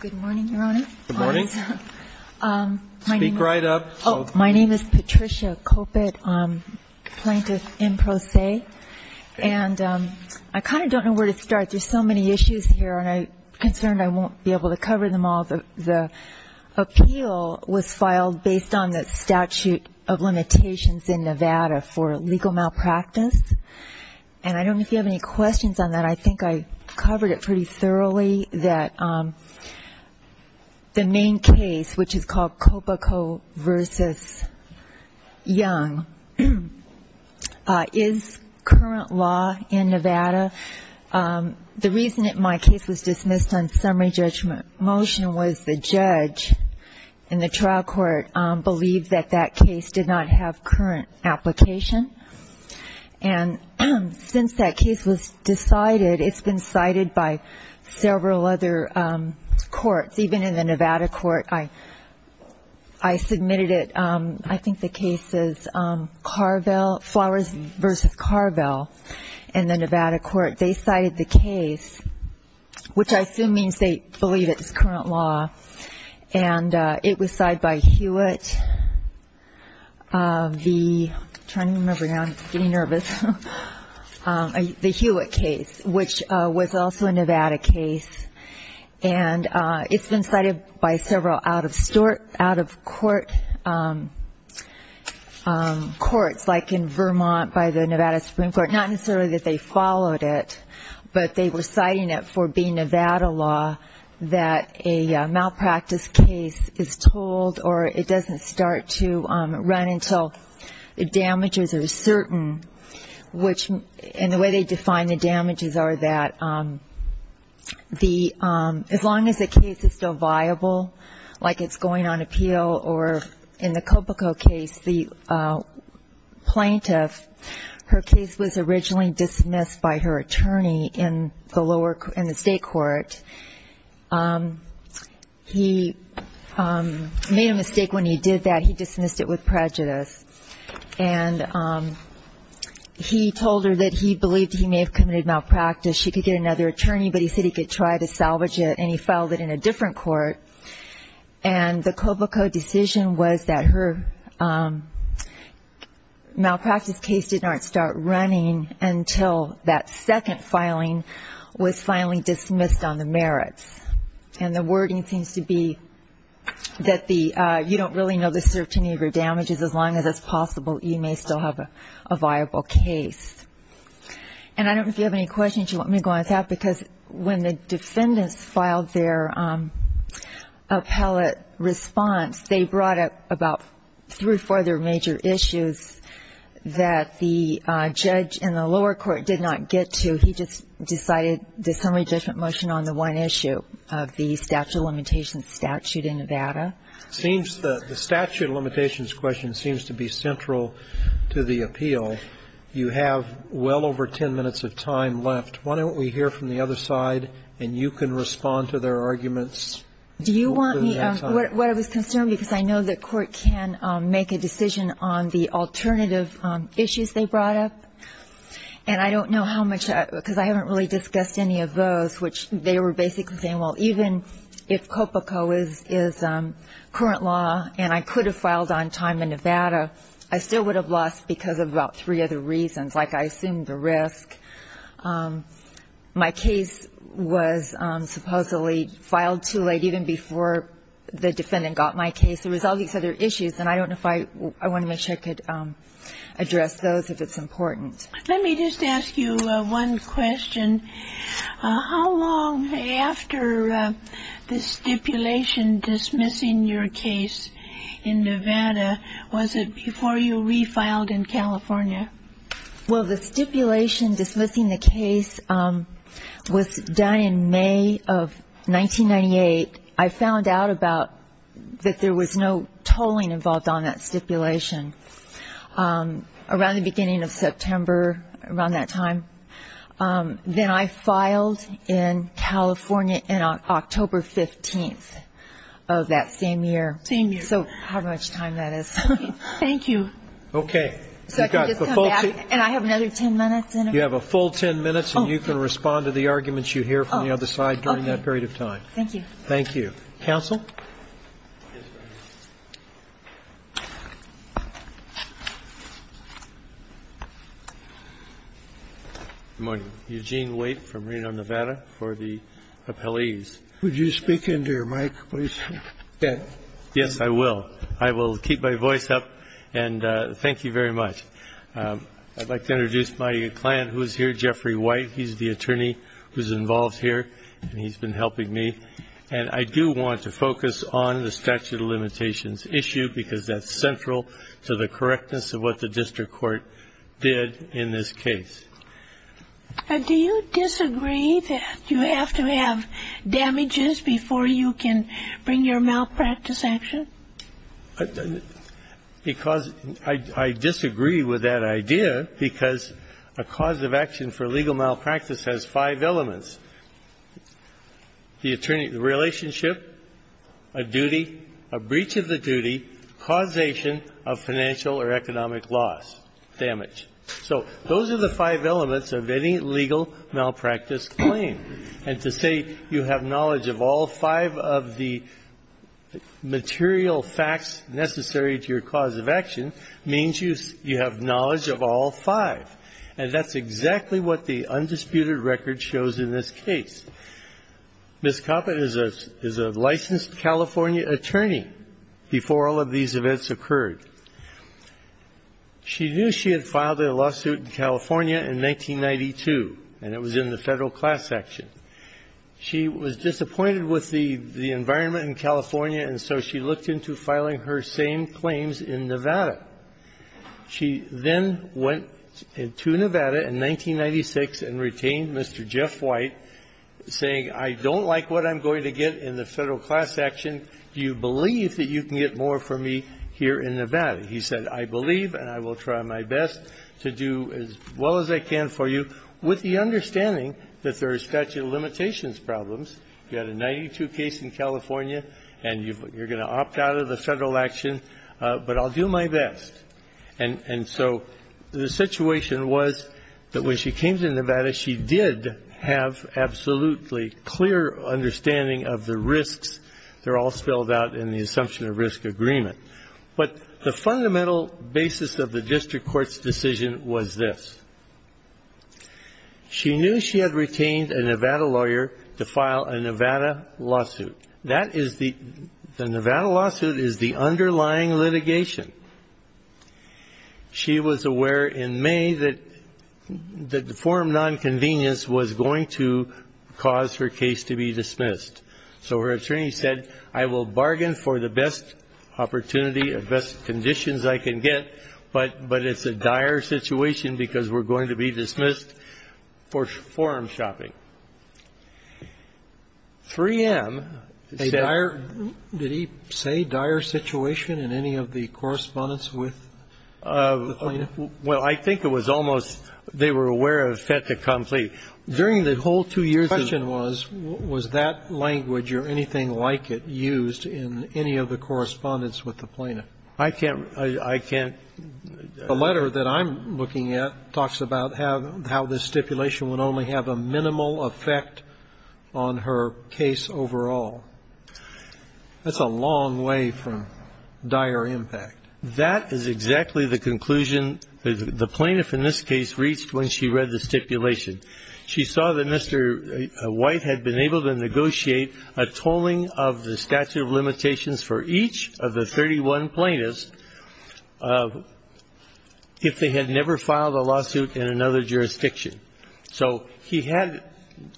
Good morning, Your Honor. Good morning. Speak right up. My name is Patricia Kopit. I'm a plaintiff in pro se, and I kind of don't know where to start. There's so many issues here, and I'm concerned I won't be able to cover them all. The appeal was filed based on the statute of limitations in Nevada for legal malpractice, and I don't know if you have any questions on that. I think I covered it pretty thoroughly, that the main case, which is called Kopit v. Young, is current law in Nevada. The reason my case was dismissed on summary judgment motion was the judge in the trial court believed that that case did not have current application, and since that case was decided, it's been cited by several other courts, even in the Nevada court. I submitted it, I think the case is Flowers v. Carvel in the Nevada court. They cited the case, which I assume means they believe it's current law, and it was cited by Hewitt. I'm trying to remember now. I'm getting nervous. The Hewitt case, which was also a Nevada case, and it's been cited by several out-of-court courts, like in Vermont by the Nevada Supreme Court. Not necessarily that they followed it, but they were citing it for being a Nevada law, that a malpractice case is told or it doesn't start to run until the damages are certain, which in the way they define the damages are that as long as the case is still viable, like it's going on appeal, or in the state court, he made a mistake when he did that. He dismissed it with prejudice, and he told her that he believed he may have committed malpractice. She could get another attorney, but he said he could try to salvage it, and he filed it in a different court, and the COBOCO decision was that her malpractice case didn't start running until that second filing was finally dismissed on the merits. And the wording seems to be that you don't really know the certainty of your damages as long as it's possible you may still have a viable case. And I don't know if you have any questions you want me to go on and talk, because when the Court heard about three or four other major issues that the judge in the lower court did not get to, he just decided the summary judgment motion on the one issue of the statute of limitations statute in Nevada. The statute of limitations question seems to be central to the appeal. You have well over 10 minutes of time left. Why don't we hear from the other side, and you can respond to their arguments. Do you want me to? What I was concerned, because I know the Court can make a decision on the alternative issues they brought up, and I don't know how much, because I haven't really discussed any of those, which they were basically saying, well, even if COBOCO is current law and I could have filed on time in Nevada, I still would have lost because of about three other reasons, like I assumed the risk. My case was supposedly filed too late, even before the defendant got my case. There was all these other issues, and I don't know if I want to make sure I could address those if it's important. Let me just ask you one question. How long after the stipulation dismissing your case in Nevada, was it before you refiled in California? Well, the stipulation dismissing the case was done in May of 1998. I found out about that there was no tolling involved on that stipulation around the beginning of September, around that time. Then I filed in California on October 15th of that same year. So how much time that is. Thank you. Okay. And I have another ten minutes? You have a full ten minutes, and you can respond to the arguments you hear from the other side during that period of time. Thank you. Thank you. Counsel? Yes, Your Honor. Good morning. Eugene Waite from Reno, Nevada, for the appellees. Would you speak into your mic, please? Yes, I will. I will keep my voice up. And thank you very much. I'd like to introduce my client who is here, Jeffrey Waite. He's the attorney who's involved here, and he's been helping me. And I do want to focus on the statute of limitations issue, because that's central to the correctness of what the district court did in this case. Do you disagree that you have to have damages before you can bring your malpractice action? Because I disagree with that idea, because a cause of action for legal malpractice has five elements. The relationship, a duty, a breach of the duty, causation of financial or economic loss, damage. So those are the five elements of any legal malpractice claim. And to say you have knowledge of all five of the material facts necessary to your cause of action means you have knowledge of all five. And that's exactly what the undisputed record shows in this case. Ms. Coppin is a licensed California attorney before all of these events occurred. She knew she had filed a lawsuit in California in 1992, and it was in the Federal Class Action. She was disappointed with the environment in California, and so she looked into filing her same claims in Nevada. She then went to Nevada in 1996 and retained Mr. Jeff Waite, saying, I don't like what I'm going to get in the case here in Nevada. He said, I believe and I will try my best to do as well as I can for you with the understanding that there are statute of limitations problems. You had a 1992 case in California, and you're going to opt out of the Federal action, but I'll do my best. And so the situation was that when she came to Nevada, she did have absolutely clear understanding of the risks. They're all spelled out in the case. But the fundamental basis of the district court's decision was this. She knew she had retained a Nevada lawyer to file a Nevada lawsuit. That is the Nevada lawsuit is the underlying litigation. She was aware in May that the form of nonconvenience was going to cause her case to be dismissed. So her attorney said, I will bargain for the best opportunity and conditions I can get, but it's a dire situation because we're going to be dismissed for forum shopping. 3M, a dire, did he say dire situation in any of the correspondence with the plaintiff? Well, I think it was almost they were aware of fait accompli. During the whole two years the question was, was that language or anything like it used in any of the correspondence with the plaintiff? I can't, I can't. The letter that I'm looking at talks about how this stipulation would only have a minimal effect on her case overall. That's a long way from dire impact. That is exactly the conclusion the plaintiff in this case reached when she read the stipulation. She saw that Mr. White had been able to negotiate a tolling of the statute of limitations for each of the 31 plaintiffs if they had never filed a lawsuit in another jurisdiction. So he had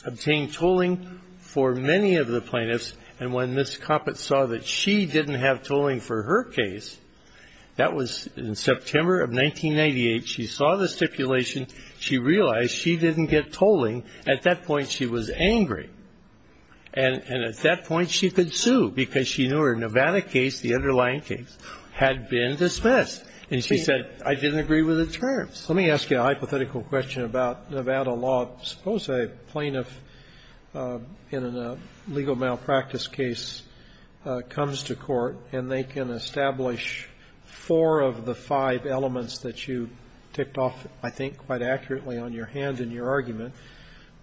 obtained tolling for many of the plaintiffs, and when Ms. Coppett saw that she didn't have tolling for her case, that was in September of 1998, she saw the stipulation, she realized she was angry, and at that point she could sue because she knew her Nevada case, the underlying case, had been dismissed. And she said, I didn't agree with the terms. Let me ask you a hypothetical question about Nevada law. Suppose a plaintiff in a legal malpractice case comes to court and they can establish four of the five elements that you ticked off, I think, quite accurately on your hand in your argument,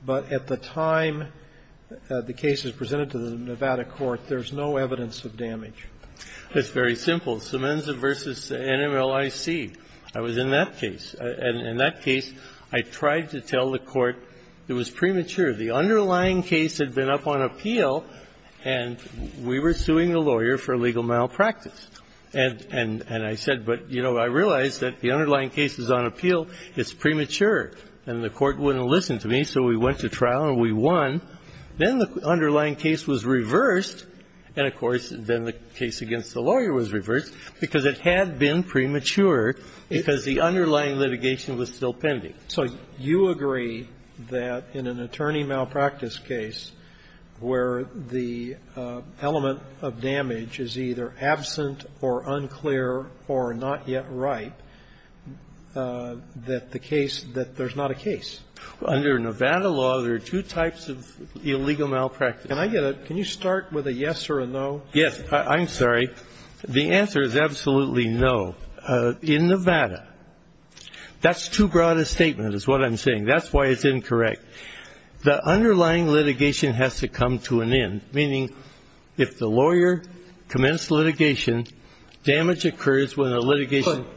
but at the time the case is presented to the Nevada court, there's no evidence of damage. It's very simple. Semenza v. NMLIC. I was in that case. In that case, I tried to tell the court it was premature. The underlying case had been up on appeal, and we were suing the lawyer for legal malpractice. And I said, but, you know, I realize that the underlying case is on appeal. It's premature. And the court wouldn't listen to me, so we went to trial and we won. Then the underlying case was reversed. And, of course, then the case against the lawyer was reversed because it had been premature because the underlying litigation was still pending. So you agree that in an attorney malpractice case where the element of damage is either absent or unclear or not yet right, that the case that there's not a case? Under Nevada law, there are two types of illegal malpractice. Can I get a – can you start with a yes or a no? Yes. I'm sorry. The answer is absolutely no. In Nevada, that's too broad a statement is what I'm saying. That's why it's incorrect. The underlying litigation has to come to an end, meaning if the lawyer commenced litigation, damage occurs when the litigation –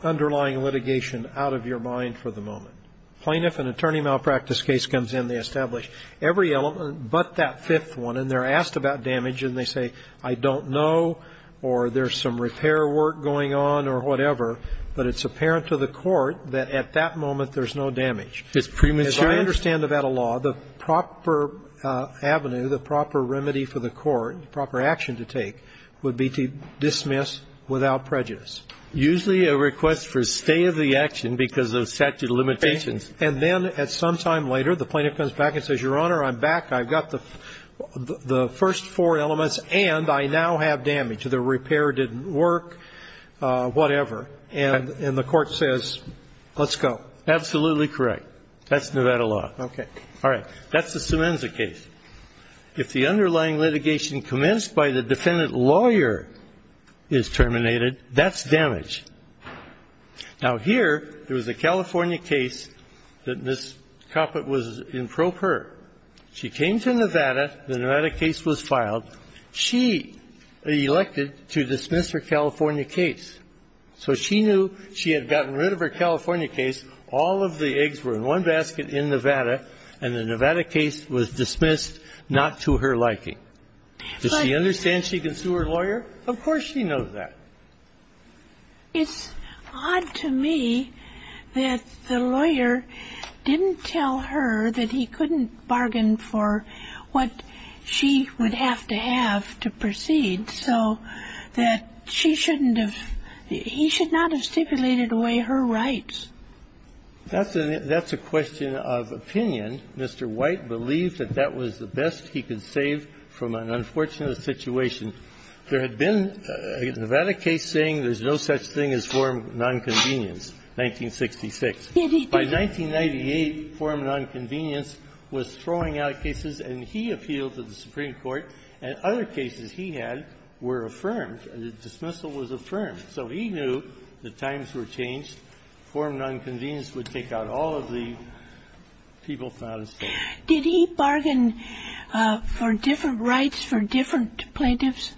Put underlying litigation out of your mind for the moment. Plaintiff, an attorney malpractice case comes in, they establish every element but that fifth one, and they're asked about damage and they say, I don't know, or there's some repair work going on or whatever, but it's apparent to the court that at that moment there's no damage. It's premature. As I understand Nevada law, the proper avenue, the proper remedy for the court, the proper action to take would be to dismiss without prejudice. Usually a request for stay of the action because of statute of limitations. And then at some time later, the plaintiff comes back and says, Your Honor, I'm back. I've got the first four elements and I now have damage. The repair didn't work, whatever. And the court says, let's go. Absolutely correct. That's Nevada law. Okay. All right. That's the Semenza case. If the underlying litigation commenced by the defendant lawyer is terminated, that's damage. Now, here, there was a California case that Ms. Coppett was in pro per. She came to Nevada. The Nevada case was filed. She elected to dismiss her California case. So she knew she had gotten rid of her California case. All of the eggs were in one basket in Nevada. And the Nevada case was dismissed not to her liking. Does she understand she can sue her lawyer? Of course she knows that. It's odd to me that the lawyer didn't tell her that he couldn't bargain for what she would have to have to proceed so that she shouldn't have he should not have stipulated away her rights. That's a question of opinion. Mr. White believed that that was the best he could save from an unfortunate situation. There had been a Nevada case saying there's no such thing as form of nonconvenience, 1966. By 1998, form of nonconvenience was throwing out cases and he appealed to the Supreme Court and other cases he had were affirmed. The dismissal was affirmed. So he knew the times were changed. Form of nonconvenience would take out all of the people found in state. Did he bargain for different rights for different plaintiffs?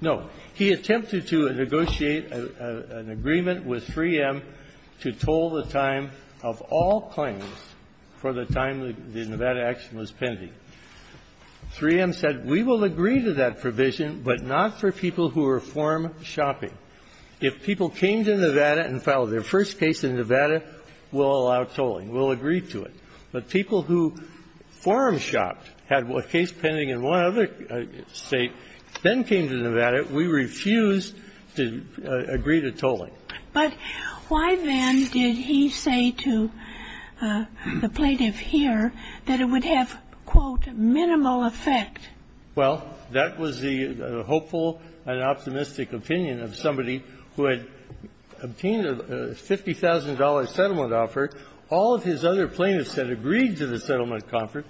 No. He attempted to negotiate an agreement with 3M to toll the time of all claims for the time the Nevada action was pending. 3M said, we will agree to that provision, but not for people who are form-shopping. If people came to Nevada and filed their first case in Nevada, we'll allow tolling. We'll agree to it. But people who form-shopped had a case pending in one other state, then came to Nevada, we refused to agree to tolling. But why, then, did he say to the plaintiff here that it would have, quote, minimal effect? Well, that was the hopeful and optimistic opinion of somebody who had obtained a $50,000 settlement offer. All of his other plaintiffs had agreed to the settlement offer,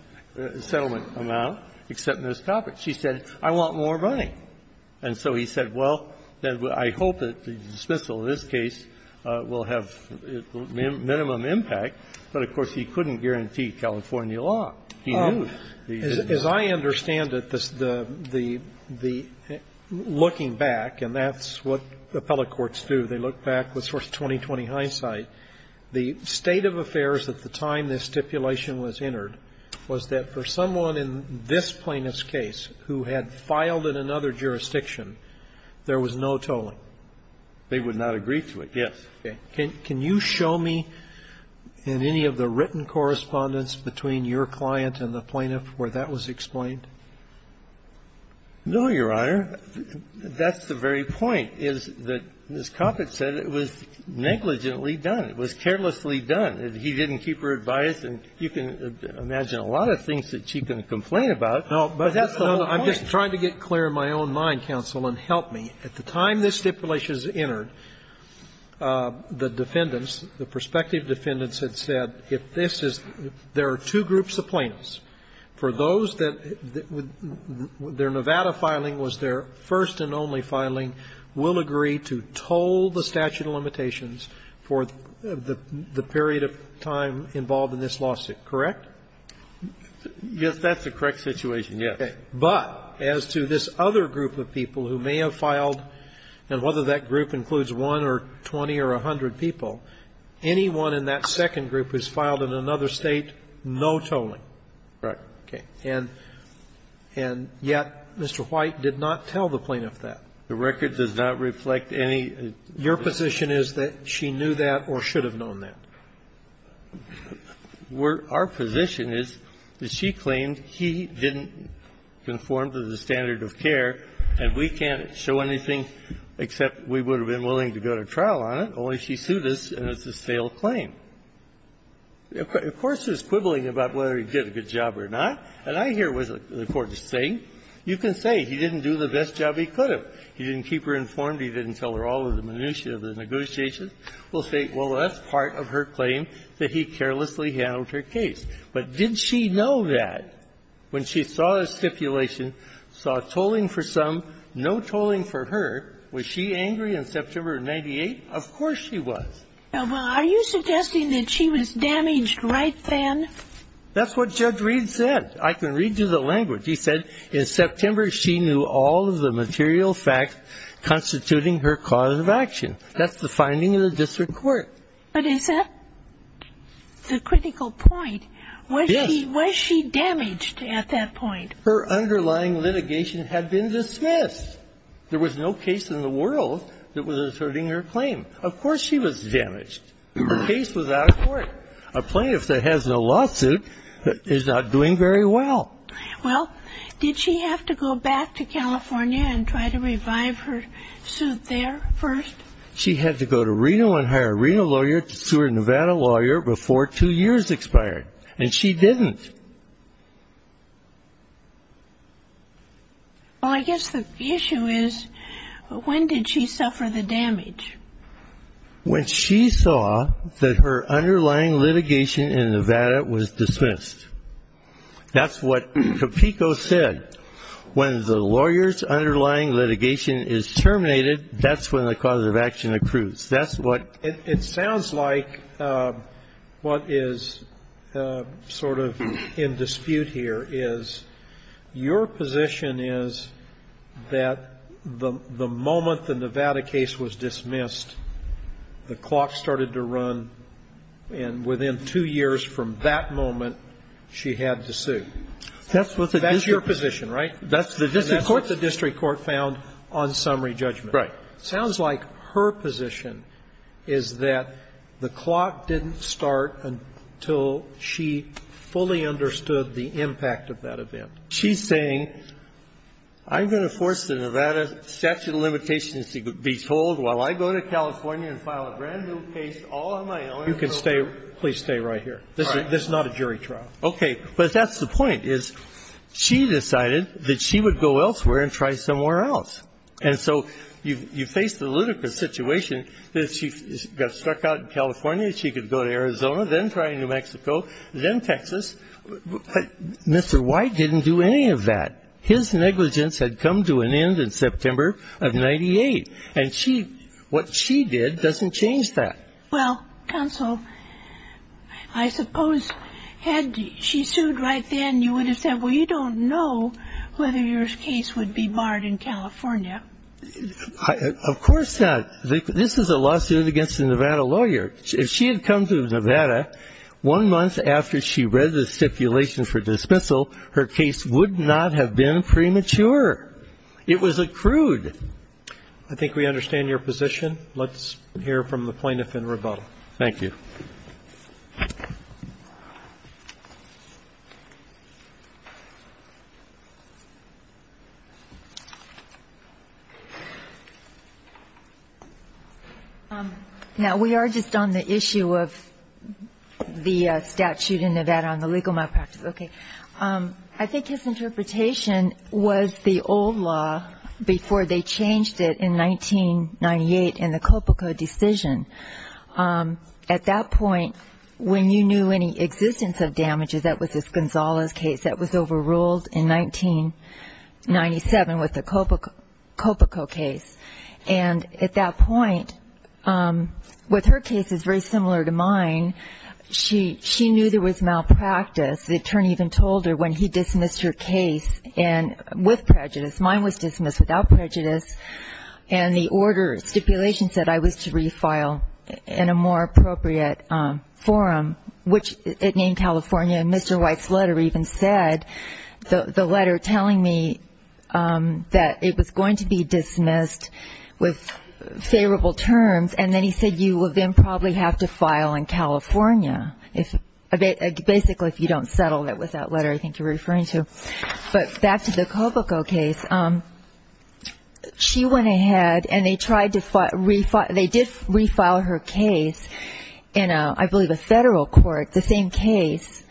settlement amount, except Ms. Coppert. She said, I want more money. And so he said, well, I hope that the dismissal in this case will have minimum impact, but, of course, he couldn't guarantee California law. He knew. As I understand it, the looking back, and that's what appellate courts do, they look back with sort of 20-20 hindsight, the state of affairs at the time this stipulation was entered was that for someone in this plaintiff's case who had filed in another jurisdiction, there was no tolling. They would not agree to it, yes. Can you show me in any of the written correspondence between your client and the plaintiff where that was explained? No, Your Honor. That's the very point, is that Ms. Coppert said it was negligently done. It was carelessly done. He didn't keep her advice, and you can imagine a lot of things that she can complain about. But that's the whole point. I'm just trying to get clear in my own mind, counsel, and help me. At the time this stipulation was entered, the defendants, the prospective defendants had said, if this is there are two groups of plaintiffs, for those that their Nevada filing was their first and only filing, will agree to toll the statute limitations for the period of time involved in this lawsuit, correct? Yes, that's the correct situation, yes. But as to this other group of people who may have filed, and whether that group includes 1 or 20 or 100 people, anyone in that second group who's filed in another State, no tolling. Correct. Okay. And yet Mr. White did not tell the plaintiff that. The record does not reflect any of that. Your position is that she knew that or should have known that? Our position is that she claimed he didn't conform to the standard of care, and we can't show anything except we would have been willing to go to trial on it, only she sued us, and it's a stale claim. Of course, there's quibbling about whether he did a good job or not. And I hear what the Court is saying. You can say he didn't do the best job he could have. He didn't keep her informed. He didn't tell her all of the minutiae of the negotiations. We'll say, well, that's part of her claim that he carelessly handled her case. But did she know that when she saw a stipulation, saw tolling for some, no tolling for her? Was she angry in September of 98? Of course she was. Well, are you suggesting that she was damaged right then? That's what Judge Reed said. I can read you the language. He said, in September, she knew all of the material facts constituting her cause of action. That's the finding of the district court. But is that the critical point? Yes. Was she damaged at that point? Her underlying litigation had been dismissed. There was no case in the world that was asserting her claim. Of course she was damaged. Her case was out of court. A plaintiff that has no lawsuit is not doing very well. Well, did she have to go back to California and try to revive her suit there first? She had to go to Reno and hire a Reno lawyer to sue her Nevada lawyer before two years expired. And she didn't. Well, I guess the issue is, when did she suffer the damage? When she saw that her underlying litigation in Nevada was dismissed. That's what Capico said. When the lawyer's underlying litigation is terminated, that's when the cause of action accrues. That's what – It sounds like what is sort of in dispute here is, your position is that the moment the Nevada case was dismissed, the clock started to run, and within two years from that moment, she had to sue. That's your position, right? That's what the district court found on summary judgment. Right. It sounds like her position is that the clock didn't start until she fully understood the impact of that event. She's saying, I'm going to force the Nevada statute of limitations to be told while I go to California and file a brand-new case all on my own. You can stay – please stay right here. This is not a jury trial. Okay. But that's the point, is she decided that she would go elsewhere and try somewhere else. And so you face the ludicrous situation that she got struck out in California, she could go to Arizona, then try in New Mexico, then Texas. But Mr. White didn't do any of that. His negligence had come to an end in September of 98. And she – what she did doesn't change that. Well, counsel, I suppose had she sued right then, you would have said, well, you don't know whether your case would be barred in California. Of course not. This is a lawsuit against a Nevada lawyer. If she had come to Nevada one month after she read the stipulation for dismissal, her case would not have been premature. It was accrued. I think we understand your position. Let's hear from the plaintiff in rebuttal. Thank you. Now, we are just on the issue of the statute in Nevada on the legal malpractice. Okay. I think his interpretation was the old law before they changed it in 1998 in the Coppico decision. At that point, when you knew any existence of damages, that was the Gonzales case that was overruled in 1997 with the Coppico case. And at that point, with her case, it's very similar to mine, she knew there was malpractice. The attorney even told her when he dismissed her case with prejudice, mine was dismissed without prejudice, and the order stipulation said I was to refile in a more appropriate forum, which it named California. And Mr. White's letter even said, the letter telling me that it was going to be dismissed with favorable terms. And then he said, you will then probably have to file in California, basically if you don't settle with that letter I think you're referring to. But back to the Coppico case, she went ahead and they tried to refile, they did refile her case in, I believe, a federal court, the same case.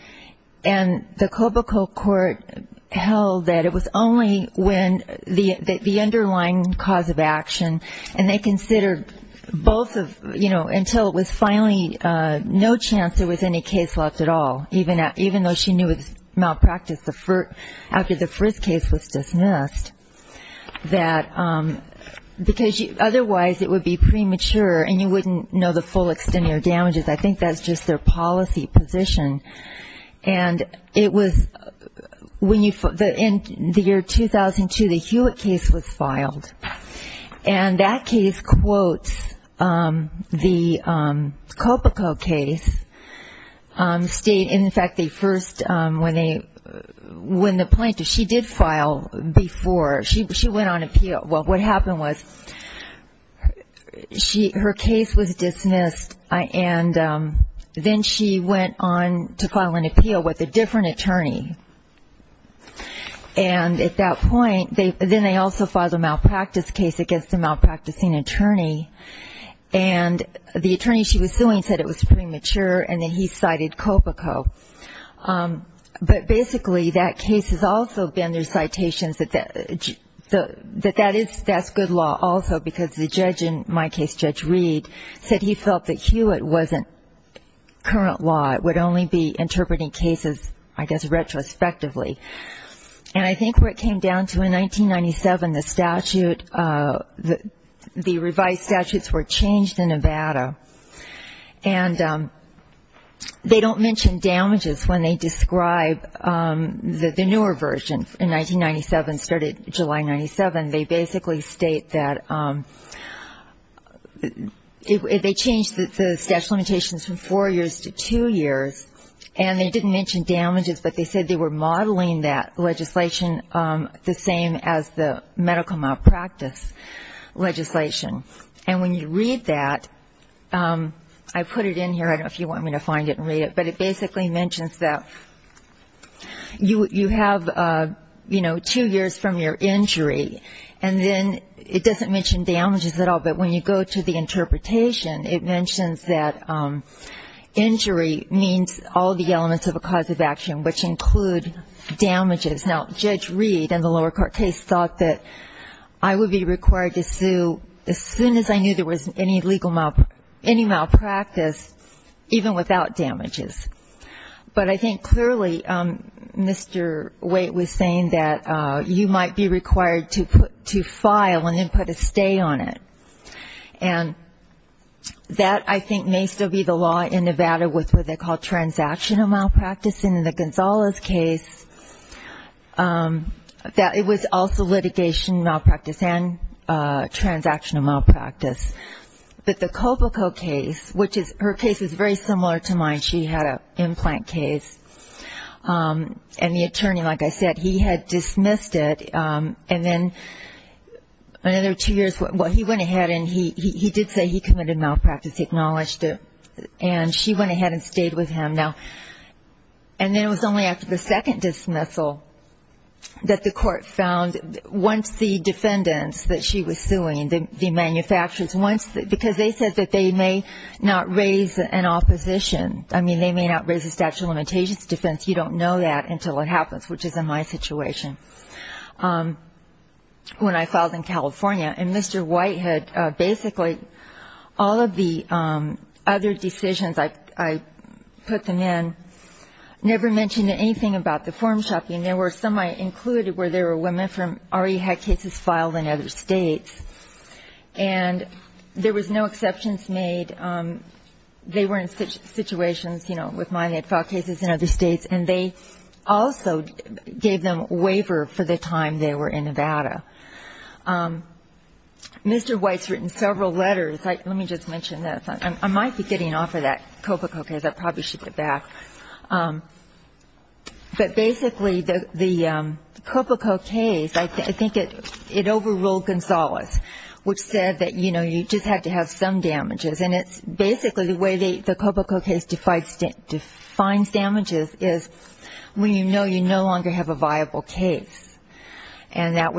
And the Coppico court held that it was only when the underlying cause of action, and they considered both of, you know, until it was finally no chance there was any case left at all, even though she knew it was malpractice after the first case was dismissed. That, because otherwise it would be premature and you wouldn't know the full extent of your damages, I think that's just their policy position. And it was, in the year 2002, the Hewitt case was filed. And that case quotes the Coppico case, in fact the first, when the plaintiff, she did file before, she went on appeal. Well, what happened was, her case was dismissed and then she went on to file an appeal with a different attorney. And at that point, then they also filed a malpractice case against a malpracticing attorney. And the attorney she was suing said it was premature and that he cited Coppico. But basically that case has also been, there's citations that that's good law also, because the judge in my case, Judge Reed, said he felt that Hewitt wasn't current law. It would only be interpreting cases, I guess, retrospectively. And I think where it came down to in 1997, the statute, the revised statutes were changed in Nevada. And they don't mention damages when they describe the newer version. In 1997, started July 97, they basically state that if they changed the statute of limitations from four years to two years, and they didn't mention damages, but they said they were modeling that legislation the same as the medical malpractice legislation. And when you read that, I put it in here, I don't know if you want me to find it and read it, but it basically mentions that you have, you know, two years from your injury. And then it doesn't mention damages at all, but when you go to the interpretation, it mentions that injury means all the elements of a cause of action, which include damages. Now, Judge Reed in the lower court case thought that I would be required to sue as soon as I knew there was any legal, any malpractice, even without damages. But I think clearly, Mr. Waite was saying that you might be required to file and then put a stay on it. And that, I think, may still be the law in Nevada with what they call transactional malpractice. In the Gonzales case, it was also litigation malpractice and transactional malpractice. But the Coboco case, which is, her case is very similar to mine. She had an implant case, and the attorney, like I said, he had dismissed it. And then another two years, well, he went ahead and he did say he committed malpractice. He acknowledged it. And she went ahead and stayed with him. Now, and then it was only after the second dismissal that the court found once the defendants that she was suing, the manufacturers, once, because they said that they may not raise an opposition. I mean, they may not raise a statute of limitations defense. You don't know that until it happens, which is in my situation. When I filed in California, and Mr. White had basically, all of the other decisions I put them in, never mentioned anything about the form shopping. There were some I included where there were women from, already had cases filed in other states. And there was no exceptions made. They were in situations, you know, with mine, they had filed cases in other states. And they also gave them a waiver for the time they were in Nevada. Mr. White's written several letters. Let me just mention this. I might be getting off of that. Copa Coques, I probably should get back. But basically, the Copa Coques, I think it overruled Gonzalez, which said that, you know, you just had to have some damages. And it's basically the way the Copa Coques defines damages is when you know you no longer have a viable case. And that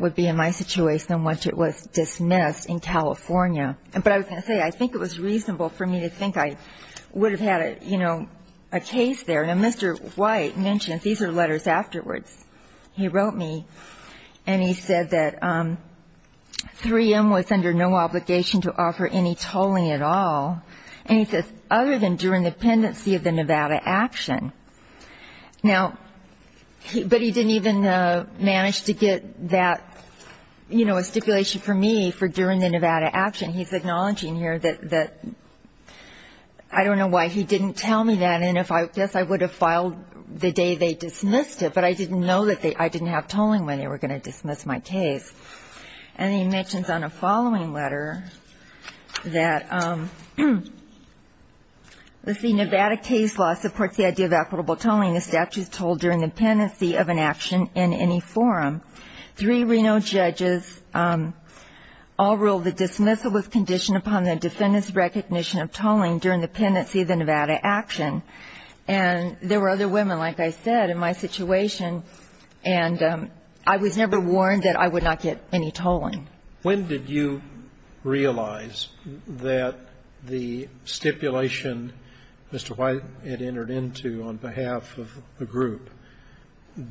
would be in my situation once it was dismissed in California. But I was going to say, I think it was reasonable for me to think I would have had a case there. And Mr. White mentioned, these are letters afterwards. He wrote me and he said that 3M was under no obligation to offer any tolling at all. And he says, other than during the pendency of the Nevada action. Now, but he didn't even manage to get that, you know, a stipulation for me for during the Nevada action. He's acknowledging here that, I don't know why he didn't tell me that. And if I guess I would have filed the day they dismissed it. But I didn't know that I didn't have tolling when they were going to dismiss my case. And he mentions on a following letter that, let's see, Nevada case law supports the idea of equitable tolling. The statute is told during the pendency of an action in any forum. Three Reno judges all ruled the dismissal was conditioned upon the defendant's recognition of tolling during the pendency of the Nevada action. And there were other women, like I said, in my situation. And I was never warned that I would not get any tolling. When did you realize that the stipulation Mr. White had entered into on behalf of the group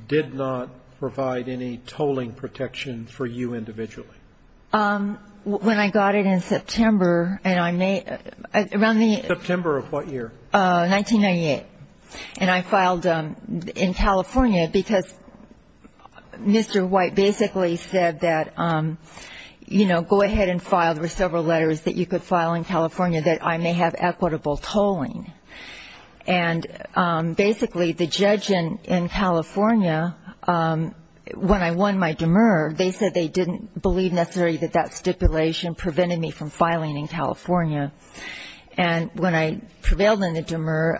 did not provide any tolling protection for you individually? When I got it in September and I made, around the. September of what year? 1998. And I filed in California because Mr. White basically said that, you know, go ahead and file. There were several letters that you could file in California that I may have equitable tolling. And basically, the judge in California, when I won my demur, they said they didn't believe necessarily that that stipulation prevented me from filing in California. And when I prevailed in the demur,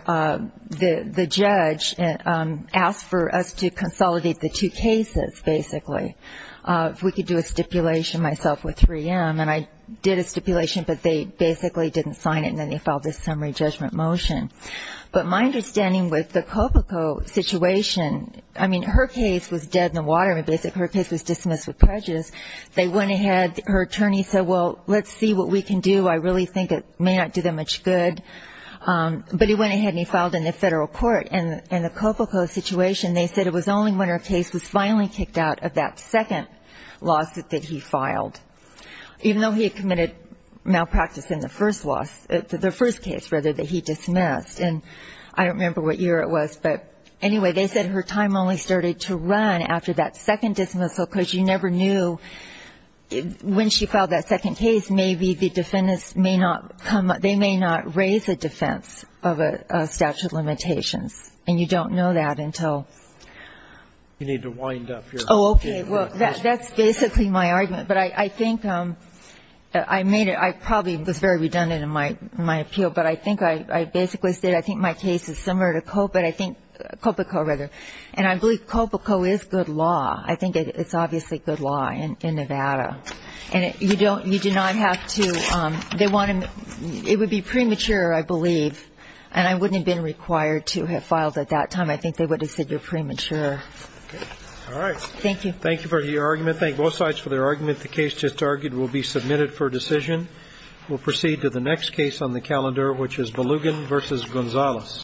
the judge asked for us to consolidate the two cases, basically. If we could do a stipulation myself with 3M. And I did a stipulation, but they basically didn't sign it, and then they filed this summary judgment motion. But my understanding with the Copico situation, I mean, her case was dead in the water. And basically, her case was dismissed with prejudice. They went ahead, her attorney said, well, let's see what we can do. I really think it may not do them much good. But he went ahead and he filed in the federal court. And in the Copico situation, they said it was only when her case was finally kicked out of that second lawsuit that he filed. Even though he had committed malpractice in the first loss, the first case, rather, that he dismissed. And I don't remember what year it was, but anyway, they said her time only started to run after that second dismissal because you never knew, when she filed that second case, maybe the defendants may not come up, they may not raise a defense of a statute of limitations. And you don't know that until- You need to wind up your- Okay, well, that's basically my argument. But I think I made it, I probably was very redundant in my appeal. But I think I basically said I think my case is similar to Copico. And I believe Copico is good law. I think it's obviously good law in Nevada. And you do not have to, they want to, it would be premature, I believe. And I wouldn't have been required to have filed at that time. I think they would have said you're premature. Okay, all right. Thank you. Thank you for your argument. Thank both sides for their argument. The case just argued will be submitted for decision. We'll proceed to the next case on the calendar, which is Belugan versus Gonzalez.